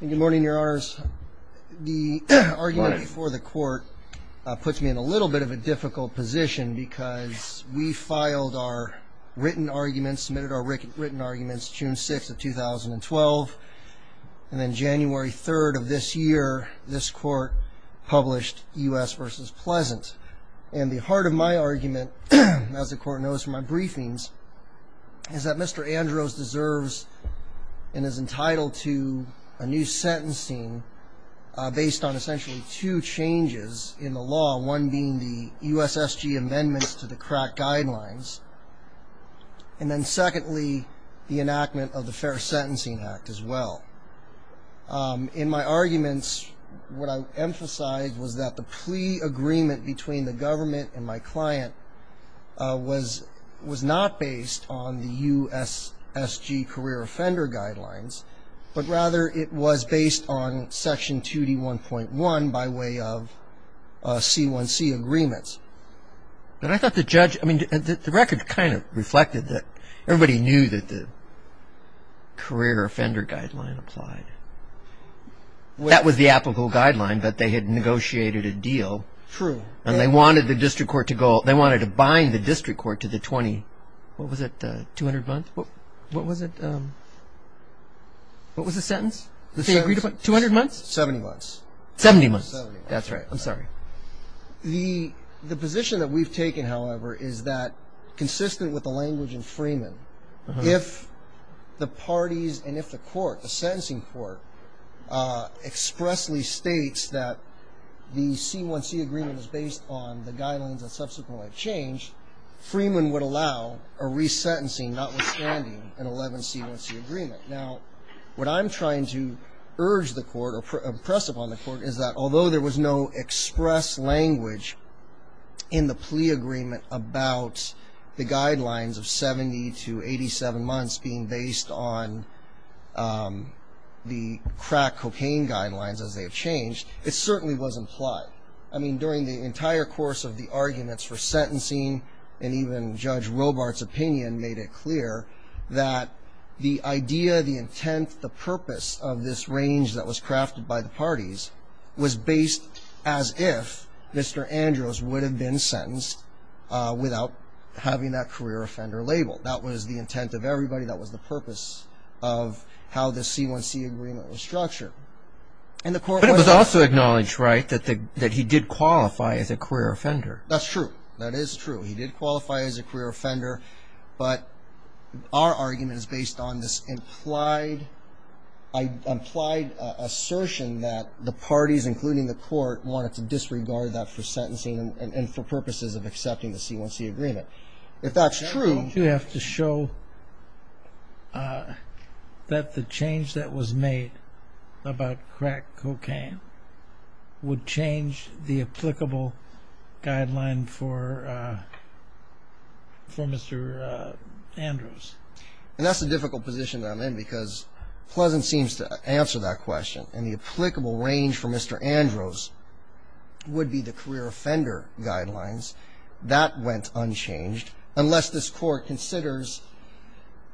Good morning, your honors. The argument before the court puts me in a little bit of a difficult position because we filed our written arguments, submitted our written arguments June 6th of 2012, and then January 3rd of this year, this court published U.S. v. Pleasant. And the heart of my argument, as the court knows from my briefings, is that Mr. Andros deserves and is entitled to a new sentencing based on essentially two changes in the law, one being the U.S. S.G. amendments to the crack guidelines, and then secondly, the enactment of the Fair Sentencing Act as well. In my arguments, what I emphasized was that the plea agreement between the government and my client was not based on the U.S. S.G. career offender guidelines, but rather it was based on Section 2D1.1 by way of C1C agreements. But I thought the judge, I mean, the record kind of reflected that everybody knew that the career offender guideline applied. That was the applicable guideline, but they had negotiated a deal. True. And they wanted the district court to go, they wanted to bind the district court to the 20, what was it, 200 months? What was it? What was the sentence? Two hundred months? Seventy months. Seventy months. Seventy months. That's right. I'm sorry. The position that we've taken, however, is that consistent with the language in Freeman, if the parties and if the court, the sentencing court, expressly states that the C1C agreement is based on the guidelines that subsequently changed, Freeman would allow a resentencing notwithstanding an 11C1C agreement. Now, what I'm trying to urge the court or press upon the court is that although there was no express language in the plea agreement about the guidelines of 70 to 87 months being based on the crack cocaine guidelines as they have changed, it certainly was implied. I mean, during the entire course of the arguments for sentencing and even Judge Robart's opinion made it clear that the idea, the intent, the purpose of this range that was crafted by the parties was based as if Mr. Andrews would have been sentenced without having that career offender label. That was the intent of everybody. That was the purpose of how the C1C agreement was structured. But it was also acknowledged, right, that he did qualify as a career offender. That's true. That is true. He did qualify as a career offender, but our argument is based on this implied assertion that the parties, including the court, wanted to disregard that for sentencing and for purposes of accepting the C1C agreement. You have to show that the change that was made about crack cocaine would change the applicable guideline for Mr. Andrews. And that's a difficult position that I'm in because Pleasant seems to answer that question, and the applicable range for Mr. Andrews would be the career offender guidelines. That went unchanged unless this Court considers,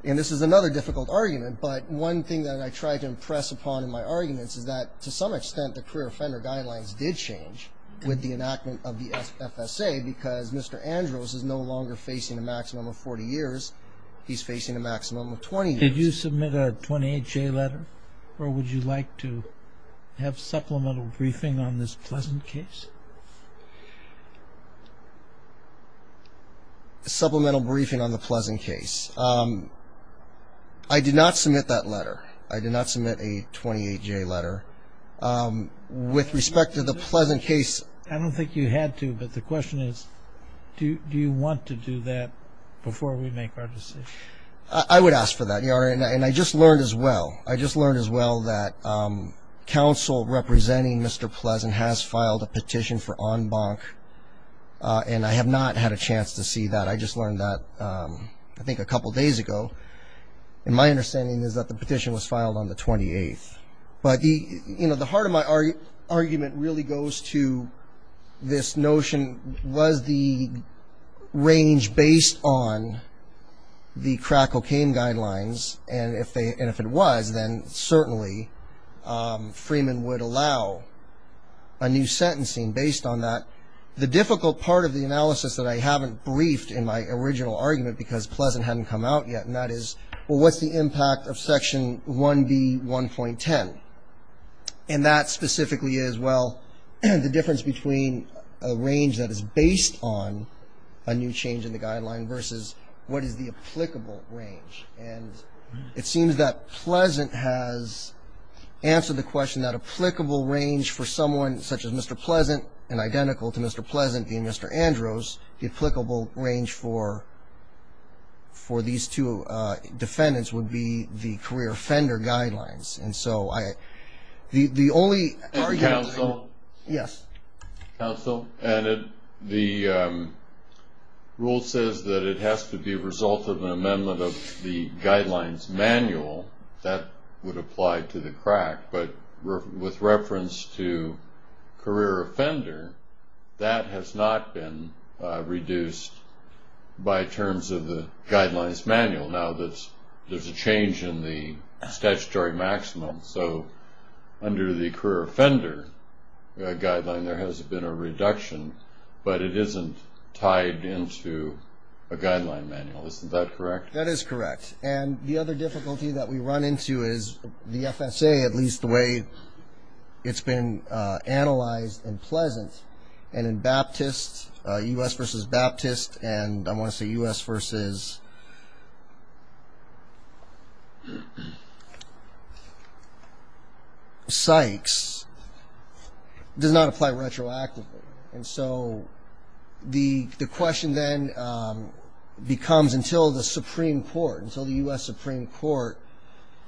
and this is another difficult argument, but one thing that I try to impress upon in my arguments is that to some extent the career offender guidelines did change with the enactment of the FSA because Mr. Andrews is no longer facing a maximum of 40 years. He's facing a maximum of 20 years. Did you submit a 28-J letter, or would you like to have supplemental briefing on this Pleasant case? Supplemental briefing on the Pleasant case. I did not submit that letter. I did not submit a 28-J letter. With respect to the Pleasant case. I don't think you had to, but the question is, do you want to do that before we make our decision? I would ask for that, Your Honor, and I just learned as well. I just learned as well that counsel representing Mr. Pleasant has filed a petition for en banc, and I have not had a chance to see that. I just learned that, I think, a couple days ago. My understanding is that the petition was filed on the 28th. But the heart of my argument really goes to this notion, was the range based on the crack cocaine guidelines, and if it was, then certainly Freeman would allow a new sentencing based on that. The difficult part of the analysis that I haven't briefed in my original argument because Pleasant hadn't come out yet, and that is, well, what's the impact of Section 1B.1.10? And that specifically is, well, the difference between a range that is based on a new change in the guideline versus what is the applicable range. And it seems that Pleasant has answered the question that applicable range for someone such as Mr. Pleasant and identical to Mr. Pleasant being Mr. Andrews, the applicable range for these two defendants would be the career offender guidelines. And so the only argument. Counsel? Yes. Counsel, the rule says that it has to be a result of an amendment of the guidelines manual. That would apply to the crack, but with reference to career offender, that has not been reduced by terms of the guidelines manual. Now, there's a change in the statutory maximum, so under the career offender guideline, there has been a reduction, but it isn't tied into a guideline manual. Isn't that correct? That is correct. And the other difficulty that we run into is the FSA, at least the way it's been analyzed in Pleasant and in Baptist, U.S. versus Baptist, and I want to say U.S. versus Sykes, does not apply retroactively. And so the question then becomes until the Supreme Court, until the U.S. Supreme Court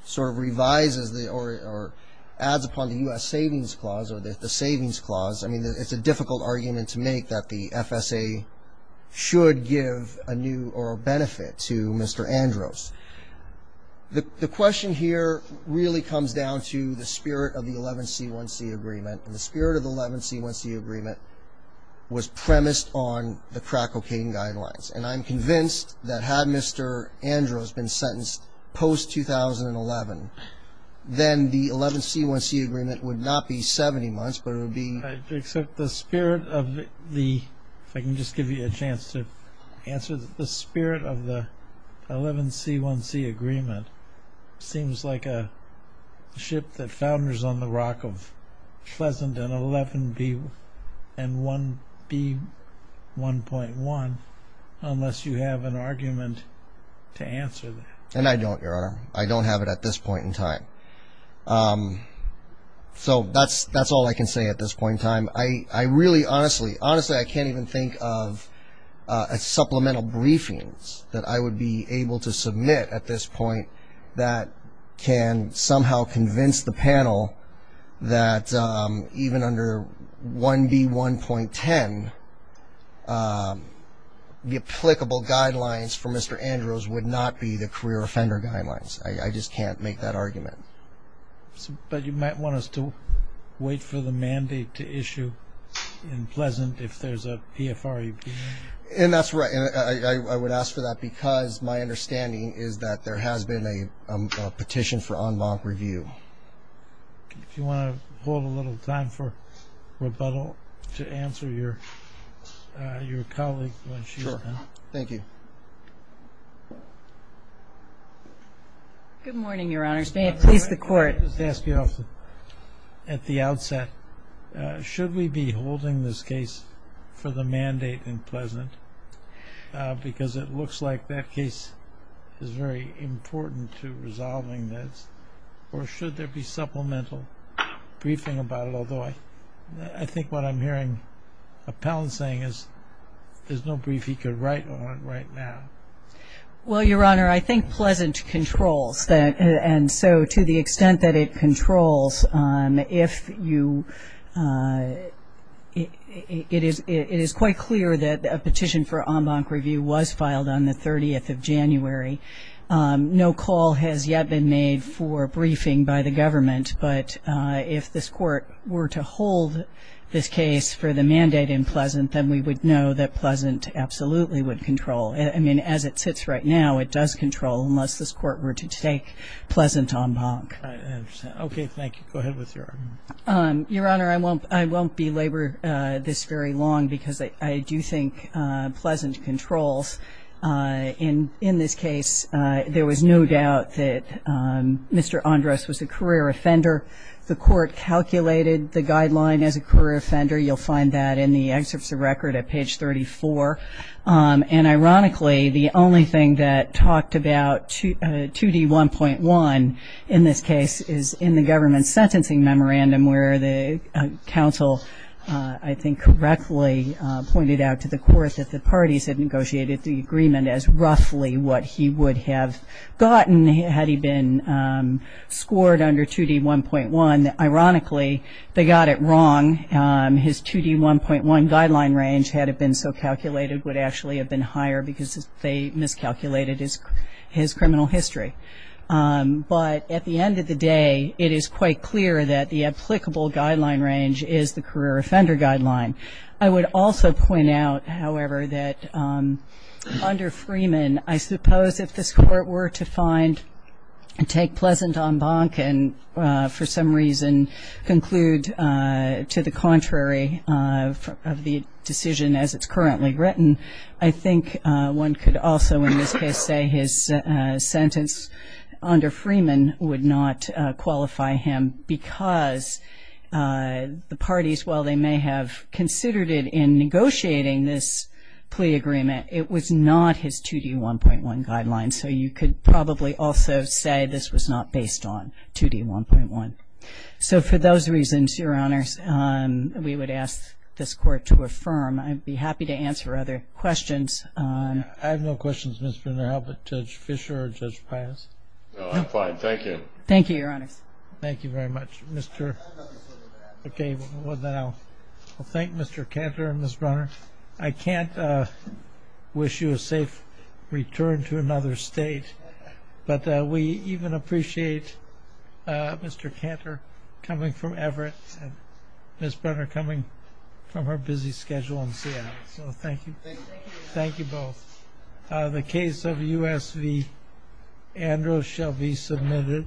sort of revises or adds upon the U.S. Savings Clause or the Savings Clause, I mean, it's a difficult argument to make that the FSA should give a new or a benefit to Mr. Andrews. The question here really comes down to the spirit of the 11C1C agreement, and the spirit of the 11C1C agreement was premised on the crack cocaine guidelines, and I'm convinced that had Mr. Andrews been sentenced post-2011, then the 11C1C agreement would not be 70 months, but it would be... Except the spirit of the, if I can just give you a chance to answer, the spirit of the 11C1C agreement seems like a ship that founders on the rock of Pleasant and 11B1.1, unless you have an argument to answer that. And I don't, Your Honor. I don't have it at this point in time. So that's all I can say at this point in time. Honestly, I can't even think of supplemental briefings that I would be able to submit at this point that can somehow convince the panel that even under 1B1.10, the applicable guidelines for Mr. Andrews would not be the career offender guidelines. I just can't make that argument. But you might want us to wait for the mandate to issue in Pleasant if there's a PFREB. And that's right. And I would ask for that because my understanding is that there has been a petition for en banc review. If you want to hold a little time for rebuttal to answer your colleague when she's done. Sure. Thank you. Good morning, Your Honors. May it please the Court. I just ask you at the outset, should we be holding this case for the mandate in Pleasant? Because it looks like that case is very important to resolving this. Or should there be supplemental briefing about it? I think what I'm hearing Appellant saying is there's no brief he could write on right now. Well, Your Honor, I think Pleasant controls. And so to the extent that it controls, if you – it is quite clear that a petition for en banc review was filed on the 30th of January. No call has yet been made for briefing by the government. But if this Court were to hold this case for the mandate in Pleasant, then we would know that Pleasant absolutely would control. I mean, as it sits right now, it does control unless this Court were to take Pleasant en banc. Okay. Thank you. Go ahead with your argument. Your Honor, I won't belabor this very long because I do think Pleasant controls. In this case, there was no doubt that Mr. Andrus was a career offender. The Court calculated the guideline as a career offender. You'll find that in the excerpts of record at page 34. And ironically, the only thing that talked about 2D1.1 in this case is in the government's sentencing memorandum, where the counsel I think correctly pointed out to the Court that the parties had negotiated the agreement as roughly what he would have gotten had he been scored under 2D1.1. Ironically, they got it wrong. His 2D1.1 guideline range, had it been so calculated, would actually have been higher because they miscalculated his criminal history. But at the end of the day, it is quite clear that the applicable guideline range is the career offender guideline. I would also point out, however, that under Freeman, I suppose if this Court were to find and take Pleasant en banc and for some reason conclude to the contrary of the decision as it's currently written, I think one could also in this case say his sentence under Freeman would not qualify him because the parties, while they may have considered it in negotiating this plea agreement, it was not his 2D1.1 guideline. So you could probably also say this was not based on 2D1.1. So for those reasons, Your Honors, we would ask this Court to affirm. I'd be happy to answer other questions. I have no questions, Ms. Brunner. How about Judge Fischer or Judge Pius? No, I'm fine. Thank you. Thank you, Your Honors. Thank you very much. I have nothing further to add. Okay. Well, then I'll thank Mr. Cantor and Ms. Brunner. I can't wish you a safe return to another state, but we even appreciate Mr. Cantor coming from Everett and Ms. Brunner coming from her busy schedule in Seattle. So thank you. Thank you. Thank you both. The case of U.S. v. Andrews shall be submitted.